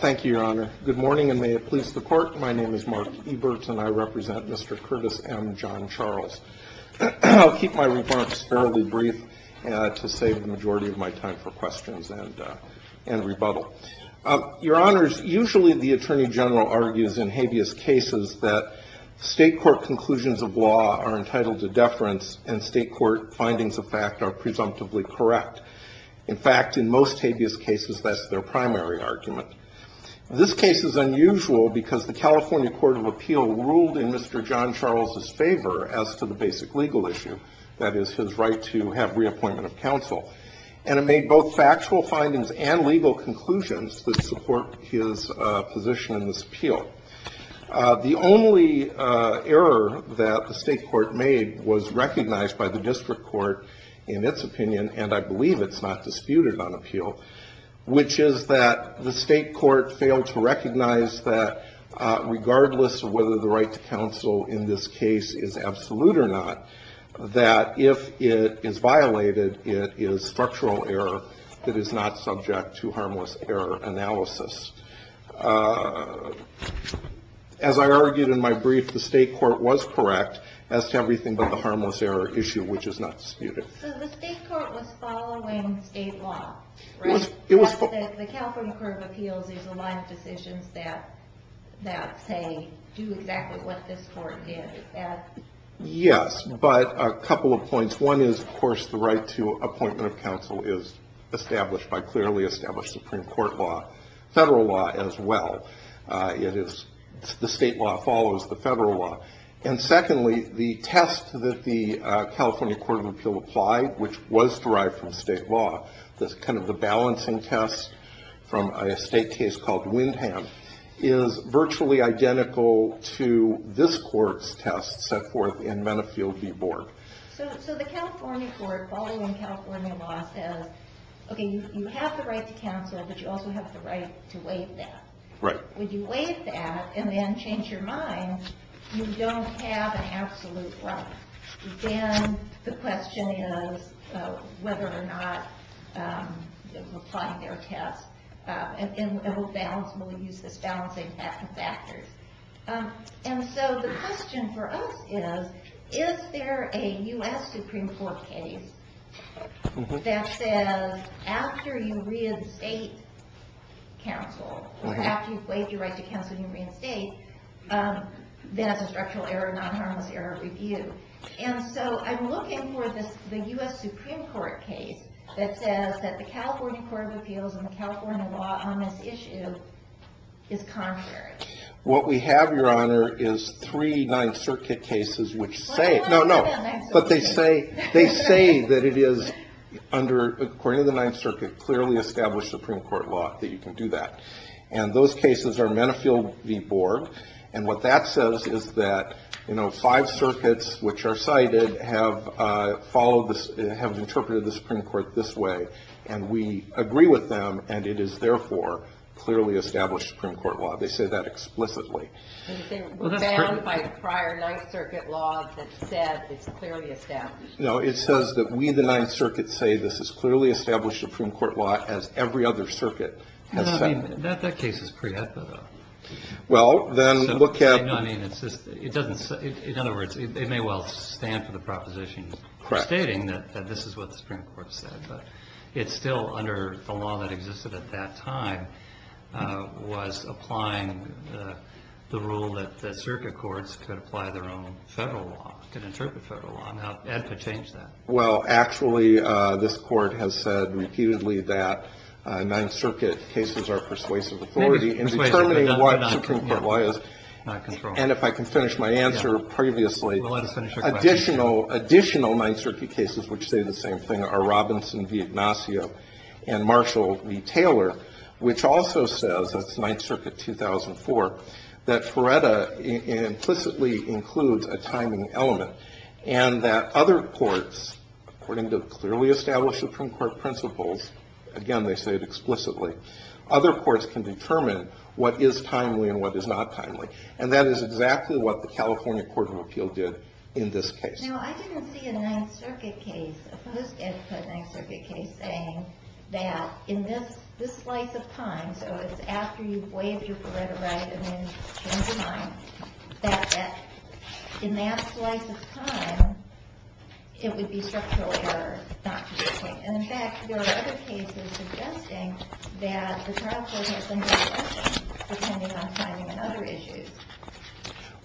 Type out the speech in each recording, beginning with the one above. Thank you, Your Honor. Good morning, and may it please the Court. My name is Mark Eberts, and I represent Mr. Curtis M. John-Charles. I'll keep my remarks fairly brief to save the majority of my time for questions and rebuttal. Your Honors, usually the Attorney General argues in habeas cases that state court conclusions of law are entitled to deference and state court findings of fact are presumptively correct. In fact, in most habeas cases, that's their primary argument. This case is unusual because the California Court of Appeal ruled in Mr. John-Charles' favor as to the basic legal issue, that is, his right to have reappointment of counsel. And it made both factual findings and legal conclusions that support his position in this appeal. The only error that the state court made was recognized by the district court in its opinion, and I believe it's not disputed on appeal, which is that the state court failed to recognize that regardless of whether the right to counsel in this case is absolute or not, that if it is violated, it is structural error that is not subject to harmless error analysis. As I argued in my brief, the state court was correct as to everything but the harmless error issue, which is not disputed. So the state court was following state law, right? The California Court of Appeals is a line of decisions that, say, do exactly what this court did. Yes, but a couple of points. One is, of course, the right to appointment of counsel is established by clearly established Supreme Court law, federal law as well. The state law follows the federal law. And secondly, the test that the California Court of Appeals applied, which was derived from state law, the balancing test from a state case called Windham, is virtually identical to this court's test set forth in Menifee v. Board. So the California court, following California law, says, okay, you have the right to counsel, but you also have the right to waive that. Right. When you waive that and then change your mind, you don't have an absolute right. Then the question is whether or not applying their test will use this balancing of factors. And so the question for us is, is there a U.S. Supreme Court case that says after you reinstate counsel, after you've waived your right to counsel and you reinstate, there's a structural error, non-harmless error review. And so I'm looking for the U.S. Supreme Court case that says that the California Court of Appeals and the California law on this issue is contrary. What we have, Your Honor, is three Ninth Circuit cases which say. No, no. But they say, they say that it is under, according to the Ninth Circuit, clearly established Supreme Court law that you can do that. And those cases are Menifee v. Board. And what that says is that, you know, five circuits which are cited have followed this, have interpreted the Supreme Court this way. And we agree with them. And it is therefore clearly established Supreme Court law. They say that explicitly. Well, that's true. Bound by prior Ninth Circuit law that said it's clearly established. No, it says that we, the Ninth Circuit, say this is clearly established Supreme Court law as every other circuit has said. I mean, that case is pre-etho, though. Well, then look at. I mean, it's just, it doesn't, in other words, it may well stand for the proposition stating that this is what the Supreme Court said. But it's still under the law that existed at that time was applying the rule that the circuit courts could apply their own federal law, could interpret federal law. Now, Ed could change that. Well, actually, this Court has said repeatedly that Ninth Circuit cases are persuasive authority in determining what Supreme Court law is. Not controlling. And if I can finish my answer previously. Well, let us finish our question. Additional Ninth Circuit cases which say the same thing are Robinson v. Ignacio and Marshall v. Taylor. Which also says, that's Ninth Circuit 2004, that Paretta implicitly includes a timing element. And that other courts, according to clearly established Supreme Court principles, again, they say it explicitly. Other courts can determine what is timely and what is not timely. And that is exactly what the California Court of Appeal did in this case. Now, I didn't see a Ninth Circuit case, a post-Ed put Ninth Circuit case, saying that in this slice of time, so it's after you've waived your Paretta right and then changed your mind, that in that slice of time, it would be structural error not to do so. And in fact, there are other cases suggesting that the trial court has done the same thing, depending on timing and other issues.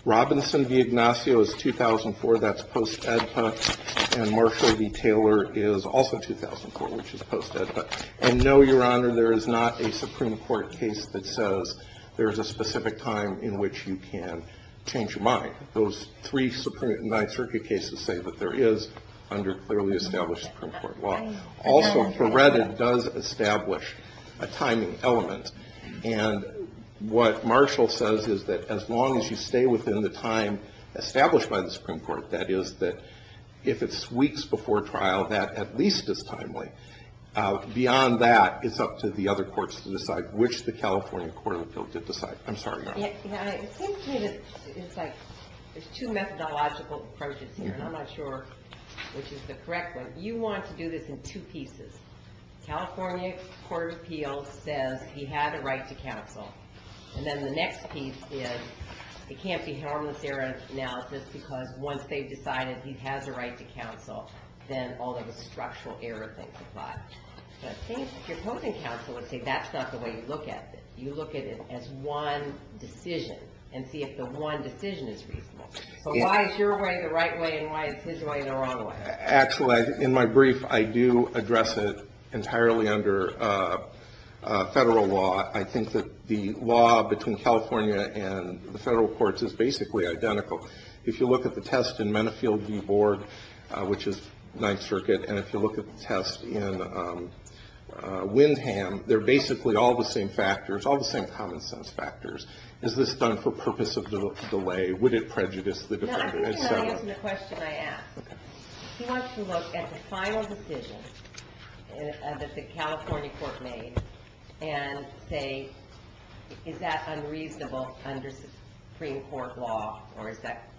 Robinson v. Ignacio is 2004. That's post-Ed put. And Marshall v. Taylor is also 2004, which is post-Ed put. And no, Your Honor, there is not a Supreme Court case that says there is a specific time in which you can change your mind. Those three Ninth Circuit cases say that there is under clearly established Supreme Court law. Also, Paretta does establish a timing element. And what Marshall says is that as long as you stay within the time established by the Supreme Court, that is that if it's weeks before trial, that at least is timely. Beyond that, it's up to the other courts to decide, which the California Court of Appeal did decide. I'm sorry, Your Honor. It seems to me that it's like there's two methodological approaches here, and I'm not sure which is the correct one. You want to do this in two pieces. California Court of Appeal says he had a right to counsel. And then the next piece is it can't be harmless error analysis because once they've decided he has a right to counsel, then all of the structural error things apply. But I think if you're posing counsel, let's say that's not the way you look at this. You look at it as one decision and see if the one decision is reasonable. So why is your way the right way and why is his way the wrong way? Actually, in my brief, I do address it entirely under federal law. I think that the law between California and the federal courts is basically identical. If you look at the test in Menifee v. Board, which is Ninth Circuit, and if you look at the test in Windham, they're basically all the same factors, all the same common sense factors. Is this done for purpose of delay? Would it prejudice the defendant? No, I think you have to answer the question I asked. He wants to look at the final decision that the California court made and say, is that unreasonable under Supreme Court law or is that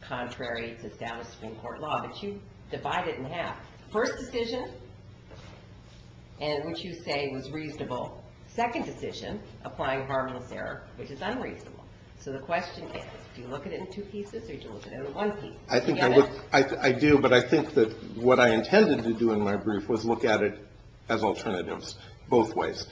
contrary to established Supreme Court law? But you divide it in half. First decision, which you say was reasonable. Second decision, applying harmless error, which is unreasonable. So the question is, do you look at it in two pieces or do you look at it in one piece? I do, but I think that what I intended to do in my brief was look at it as alternatives both ways.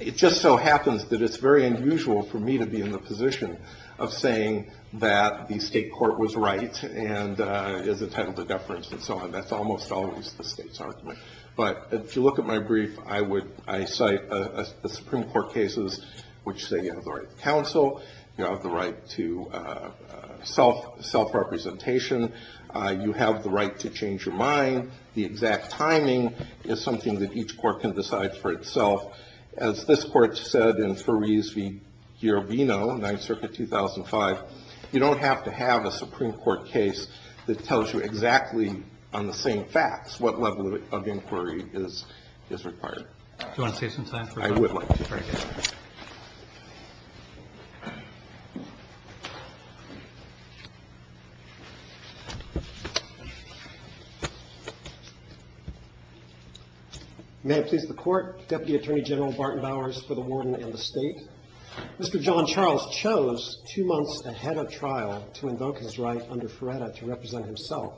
It just so happens that it's very unusual for me to be in the position of saying that the state court was right and is entitled to deference and so on. That's almost always the state's argument. But if you look at my brief, I cite the Supreme Court cases which say you have the right to counsel, you have the right to self-representation, you have the right to change your mind. The exact timing is something that each court can decide for itself. As this court said in Ferris v. Girovino, 9th Circuit, 2005, you don't have to have a Supreme Court case that tells you exactly on the same facts what level of inquiry is required. Do you want to say something? I would like to. Thank you. May it please the Court. Deputy Attorney General Barton Bowers for the Warden and the State. Mr. John Charles chose two months ahead of trial to invoke his right under Ferretta to represent himself.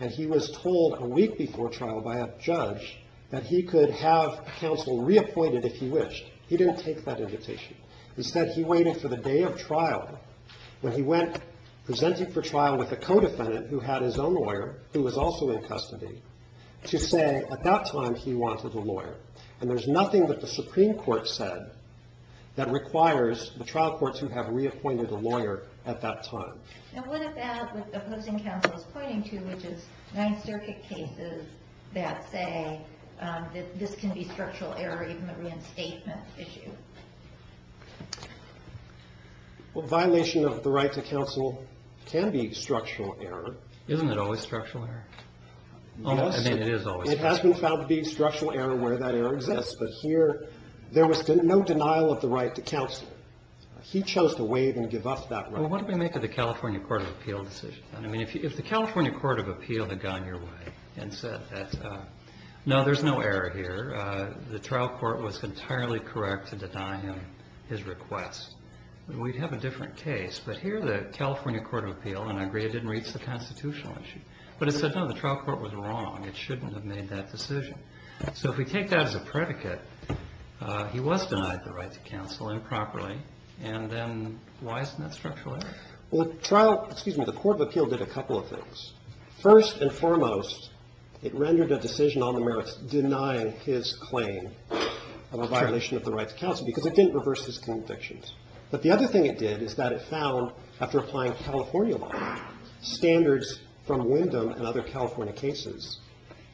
And he was told a week before trial by a judge that he could have counsel reappointed if he wished. He didn't take that invitation. Instead, he waited for the day of trial when he went presenting for trial with a co-defendant who had his own lawyer who was also in custody to say at that time he wanted a lawyer. And there's nothing that the Supreme Court said that requires the trial courts who have reappointed a lawyer at that time. And what about what the opposing counsel is pointing to, which is 9th Circuit cases that say that this can be structural error, even a reinstatement issue? Well, violation of the right to counsel can be structural error. Isn't it always structural error? Yes. I mean, it is always structural error. It has been found to be structural error where that error exists. But here, there was no denial of the right to counsel. He chose to waive and give up that right. Well, what do we make of the California Court of Appeal decision? I mean, if the California Court of Appeal had gone your way and said that, no, there's no error here. The trial court was entirely correct to deny him his request, we'd have a different case. But here, the California Court of Appeal, and I agree it didn't reach the constitutional issue, but it said, no, the trial court was wrong. It shouldn't have made that decision. So if we take that as a predicate, he was denied the right to counsel improperly. And then why isn't that structural error? Well, trial, excuse me, the Court of Appeal did a couple of things. First and foremost, it rendered a decision on the merits denying his claim of a violation of the right to counsel because it didn't reverse his convictions. But the other thing it did is that it found, after applying California law, standards from Wyndham and other California cases,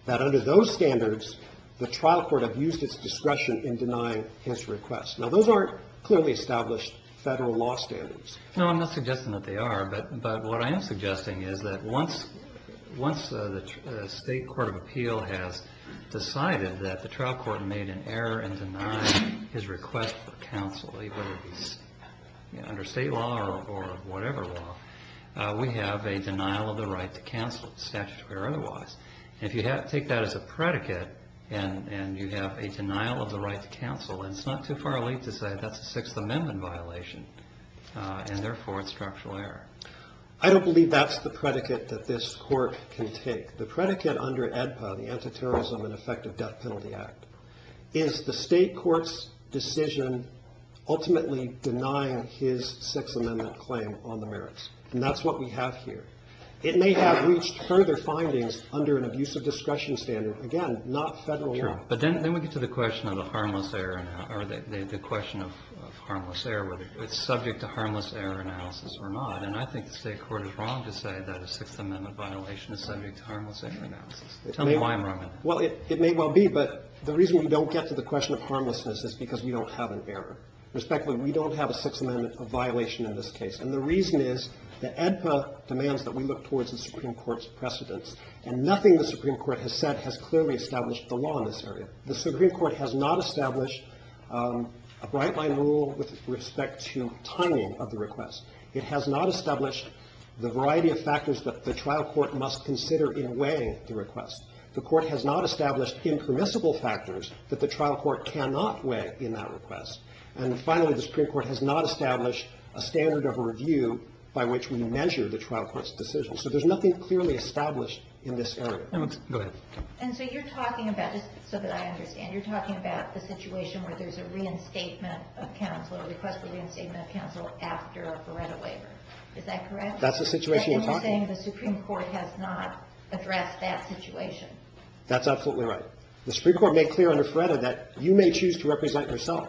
that under those standards, the trial court abused its discretion in denying his request. Now, those aren't clearly established federal law standards. No, I'm not suggesting that they are. But what I am suggesting is that once the state court of appeal has decided that the trial court made an error in denying his request for counsel, under state law or whatever law, we have a denial of the right to counsel, statutorily or otherwise. And if you take that as a predicate and you have a denial of the right to counsel, it's not too far late to say that's a Sixth Amendment violation, and therefore it's structural error. I don't believe that's the predicate that this court can take. The predicate under AEDPA, the Antiterrorism and Effective Death Penalty Act, is the state court's decision ultimately denying his Sixth Amendment claim on the merits. And that's what we have here. It may have reached further findings under an abuse of discretion standard. Again, not federal law. But then we get to the question of the harmless error or the question of harmless error, whether it's subject to harmless error analysis or not. And I think the state court is wrong to say that a Sixth Amendment violation is subject to harmless error analysis. Tell me why I'm wrong. Well, it may well be. But the reason we don't get to the question of harmlessness is because we don't have an error. Respectfully, we don't have a Sixth Amendment violation in this case. And the reason is that AEDPA demands that we look towards the Supreme Court's precedents. And nothing the Supreme Court has said has clearly established the law in this area. The Supreme Court has not established a bright-line rule with respect to timing of the request. It has not established the variety of factors that the trial court must consider in weighing the request. The court has not established impermissible factors that the trial court cannot weigh in that request. And finally, the Supreme Court has not established a standard of review by which we measure the trial court's decision. So there's nothing clearly established in this area. Go ahead. And so you're talking about, just so that I understand, you're talking about the situation where there's a reinstatement of counsel, a request for reinstatement of counsel after a FREDA waiver. Is that correct? That's the situation you're talking about. I think you're saying the Supreme Court has not addressed that situation. That's absolutely right. The Supreme Court made clear under FREDA that you may choose to represent yourself.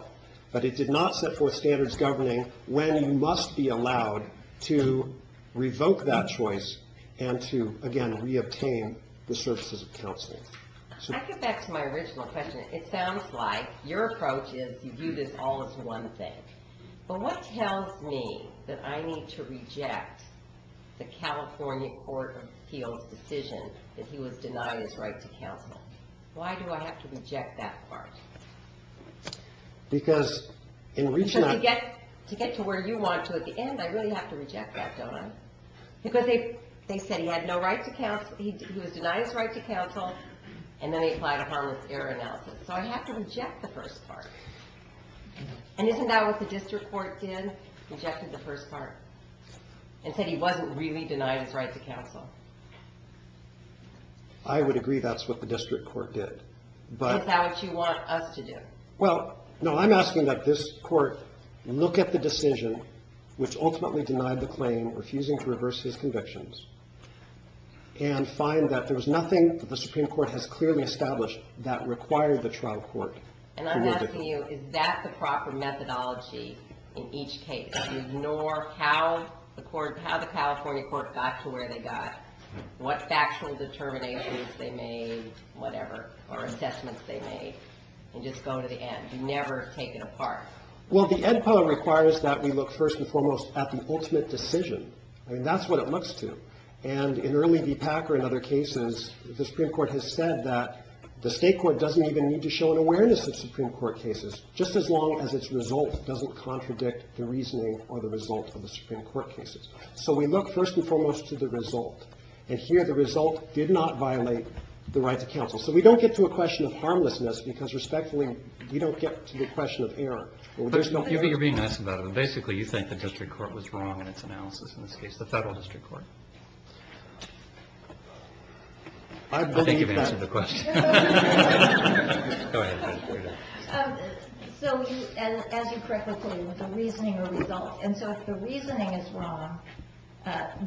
But it did not set forth standards governing when you must be allowed to revoke that choice and to, again, reobtain the services of counseling. I get back to my original question. It sounds like your approach is you view this all as one thing. But what tells me that I need to reject the California Court of Appeals' decision that he was denied his right to counsel? Why do I have to reject that part? Because in reaching out— Because to get to where you want to at the end, I really have to reject that, don't I? Because they said he had no right to counsel, he was denied his right to counsel, and then they applied a harmless error analysis. So I have to reject the first part. And isn't that what the district court did, rejected the first part, and said he wasn't really denied his right to counsel? I would agree that's what the district court did. Is that what you want us to do? Well, no, I'm asking that this court look at the decision, which ultimately denied the claim, refusing to reverse his convictions, and find that there was nothing that the Supreme Court has clearly established that required the trial court to revoke it. And I'm asking you, is that the proper methodology in each case, to ignore how the California court got to where they got, what factual determinations they made, whatever, or assessments they made, and just go to the end, never take it apart? Well, the Ed Power requires that we look, first and foremost, at the ultimate decision. I mean, that's what it looks to. And in early v. Packer and other cases, the Supreme Court has said that the state court doesn't even need to show an awareness of Supreme Court cases, just as long as its result doesn't contradict the reasoning or the result of the Supreme Court cases. So we look, first and foremost, to the result. And here, the result did not violate the right to counsel. So we don't get to a question of harmlessness, because, respectfully, we don't get to the question of error. But you're being nice about it. And basically, you think the district court was wrong in its analysis in this case, the federal district court. I believe that. I think you've answered the question. Go ahead. So, as you correctly put it, it was a reasoning or result. And so if the reasoning is wrong,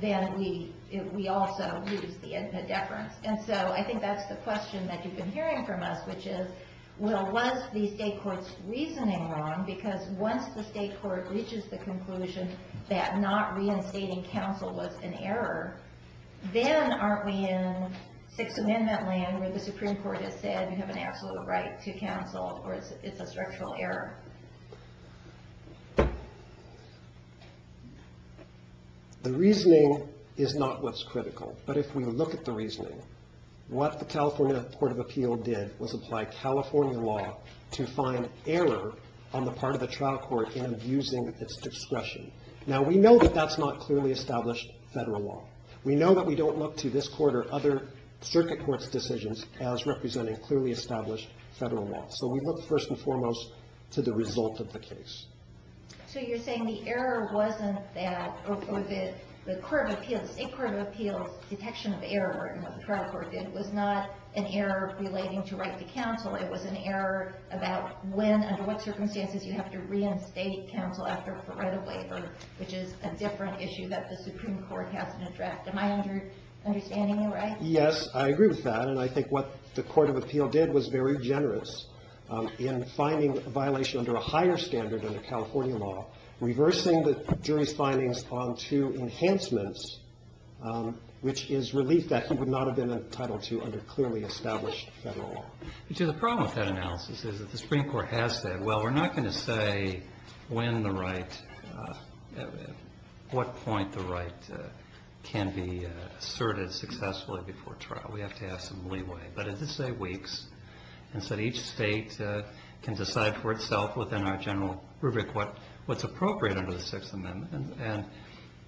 then we also lose the inference. And so I think that's the question that you've been hearing from us, which is, well, was the state court's reasoning wrong? Because once the state court reaches the conclusion that not reinstating counsel was an error, then aren't we in Sixth Amendment land where the Supreme Court has said you have an absolute right to counsel or it's a structural error? The reasoning is not what's critical. But if we look at the reasoning, what the California Court of Appeal did was apply California law to find error on the part of the trial court in abusing its discretion. Now, we know that that's not clearly established federal law. We know that we don't look to this court or other circuit court's decisions as representing clearly established federal law. So we look, first and foremost, to the result of the case. So you're saying the error wasn't that the court of appeals, state court of appeals' detection of error in what the trial court did was not an error relating to right to counsel. It was an error about when and what circumstances you have to reinstate counsel after a right of waiver, which is a different issue that the Supreme Court hasn't addressed. Am I understanding you right? Yes, I agree with that. And I think what the court of appeal did was very generous in finding violation under a higher standard than the California law, reversing the jury's findings onto enhancements, which is relief that he would not have been entitled to under clearly established federal law. The problem with that analysis is that the Supreme Court has said, well, we're not going to say when the right, what point the right can be asserted successfully before trial. We have to have some leeway. But it is, say, weeks. And so each state can decide for itself within our general rubric what's appropriate under the Sixth Amendment. And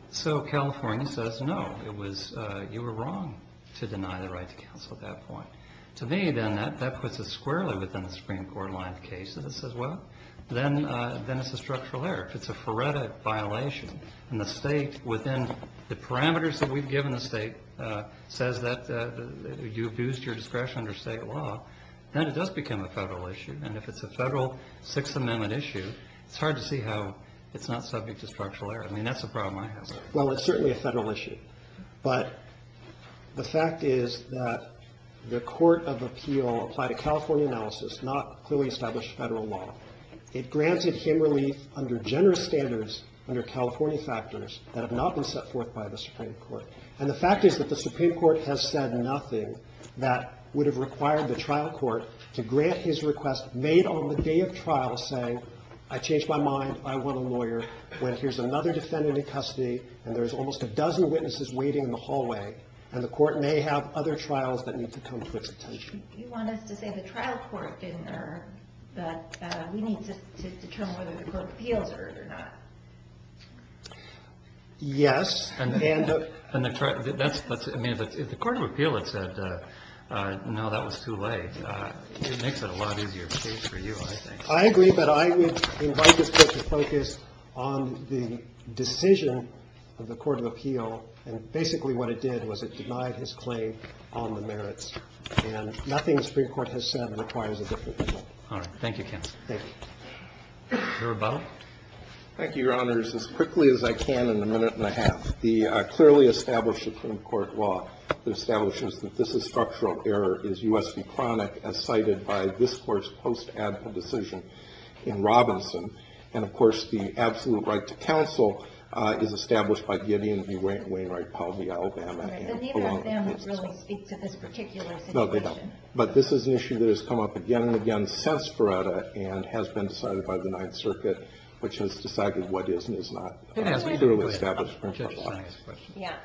so California says, no, you were wrong to deny the right to counsel at that point. To me, then, that puts us squarely within the Supreme Court line of cases. It says, well, then it's a structural error. If it's a forerunner violation and the state, within the parameters that we've given the state, says that you abused your discretion under state law, then it does become a federal issue. And if it's a federal Sixth Amendment issue, it's hard to see how it's not subject to structural error. I mean, that's a problem I have. Well, it's certainly a federal issue. But the fact is that the court of appeal applied a California analysis, not clearly established federal law. It granted him relief under generous standards under California factors that have not been set forth by the Supreme Court. And the fact is that the Supreme Court has said nothing that would have required the trial court to grant his request made on the day of trial, saying, I changed my mind, I want a lawyer, when here's another defendant in custody, and there's almost a dozen witnesses waiting in the hallway, and the court may have other trials that need to come to its attention. You want us to say the trial court didn't err, but we need to determine whether the court of appeals erred or not. Yes. And the court of appeal had said, no, that was too late. It makes it a lot easier for you, I think. I agree, but I would invite this case to focus on the decision of the court of appeal. And basically what it did was it denied his claim on the merits. And nothing the Supreme Court has said requires a different appeal. All right. Thank you, counsel. Thank you. Your rebuttal. Thank you, Your Honors. As quickly as I can in a minute and a half, the clearly established Supreme Court law that establishes that this is structural error is U.S. v. Cronick, as cited by this Court's post-ad hoc decision in Robinson. And, of course, the absolute right to counsel is established by Gideon E. Wainwright, Powell v. Alabama. And neither of them really speak to this particular situation. No, they don't. But this is an issue that has come up again and again since Ferretta and has been decided by the Ninth Circuit, which has decided what is and is not a truly established Supreme Court law. Yeah.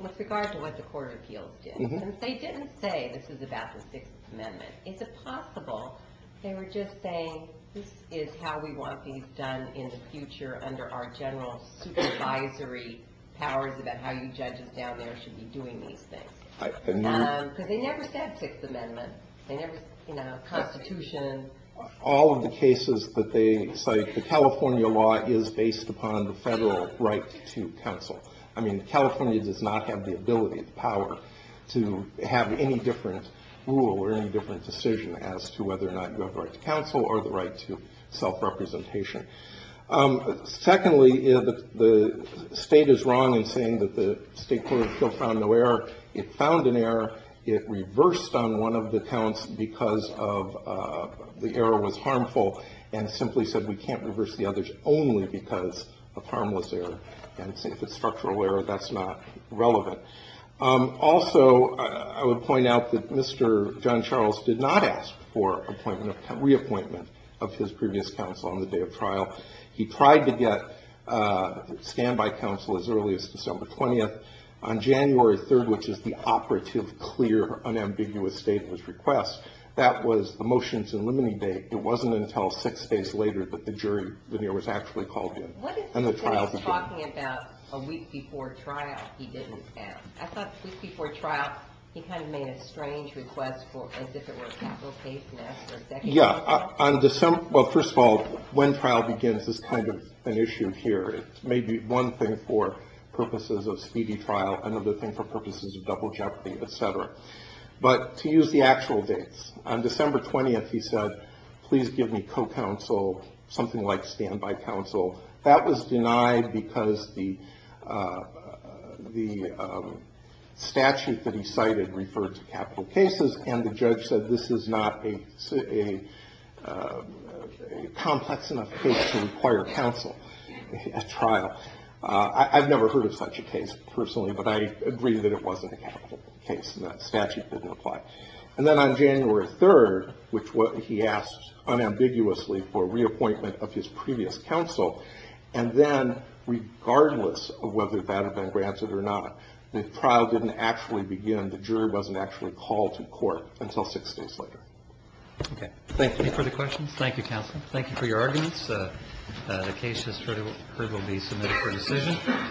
With regard to what the court of appeals did, since they didn't say this is about the Sixth Amendment, is it possible they were just saying this is how we want things done in the future under our general supervisory powers about how you judges down there should be doing these things? Because they never said Sixth Amendment. They never said Constitution. All of the cases that they cite, the California law is based upon the federal right to counsel. I mean, California does not have the ability, the power, to have any different rule or any different decision as to whether or not you have the right to counsel or the right to self-representation. Secondly, the state is wrong in saying that the state court of appeals found no error. It found an error. It reversed on one of the counts because the error was harmful and simply said we can't reverse the others only because of harmless error. And if it's structural error, that's not relevant. Also, I would point out that Mr. John Charles did not ask for reappointment of his previous counsel on the day of trial. He tried to get standby counsel as early as December 20th. On January 3rd, which is the operative, clear, unambiguous date of his request, that was the motions and limiting date. It wasn't until six days later that the jury was actually called in. What is it that he's talking about a week before trial he didn't ask? I thought the week before trial he kind of made a strange request as if it were a capital case and asked for a second trial. Yeah. Well, first of all, when trial begins is kind of an issue here. It may be one thing for purposes of speedy trial, another thing for purposes of double jeopardy, et cetera. But to use the actual dates, on December 20th he said, please give me co-counsel, something like standby counsel. That was denied because the statute that he cited referred to capital cases, and the judge said this is not a complex enough case to require counsel at trial. I've never heard of such a case personally, but I agree that it wasn't a capital case and that statute didn't apply. And then on January 3rd, which he asked unambiguously for reappointment of his previous counsel, and then regardless of whether that had been granted or not, the trial didn't actually begin. The jury wasn't actually called to court until six days later. Okay. Thank you. Any further questions? Thank you, counsel. Thank you for your arguments. The case will be submitted for decision.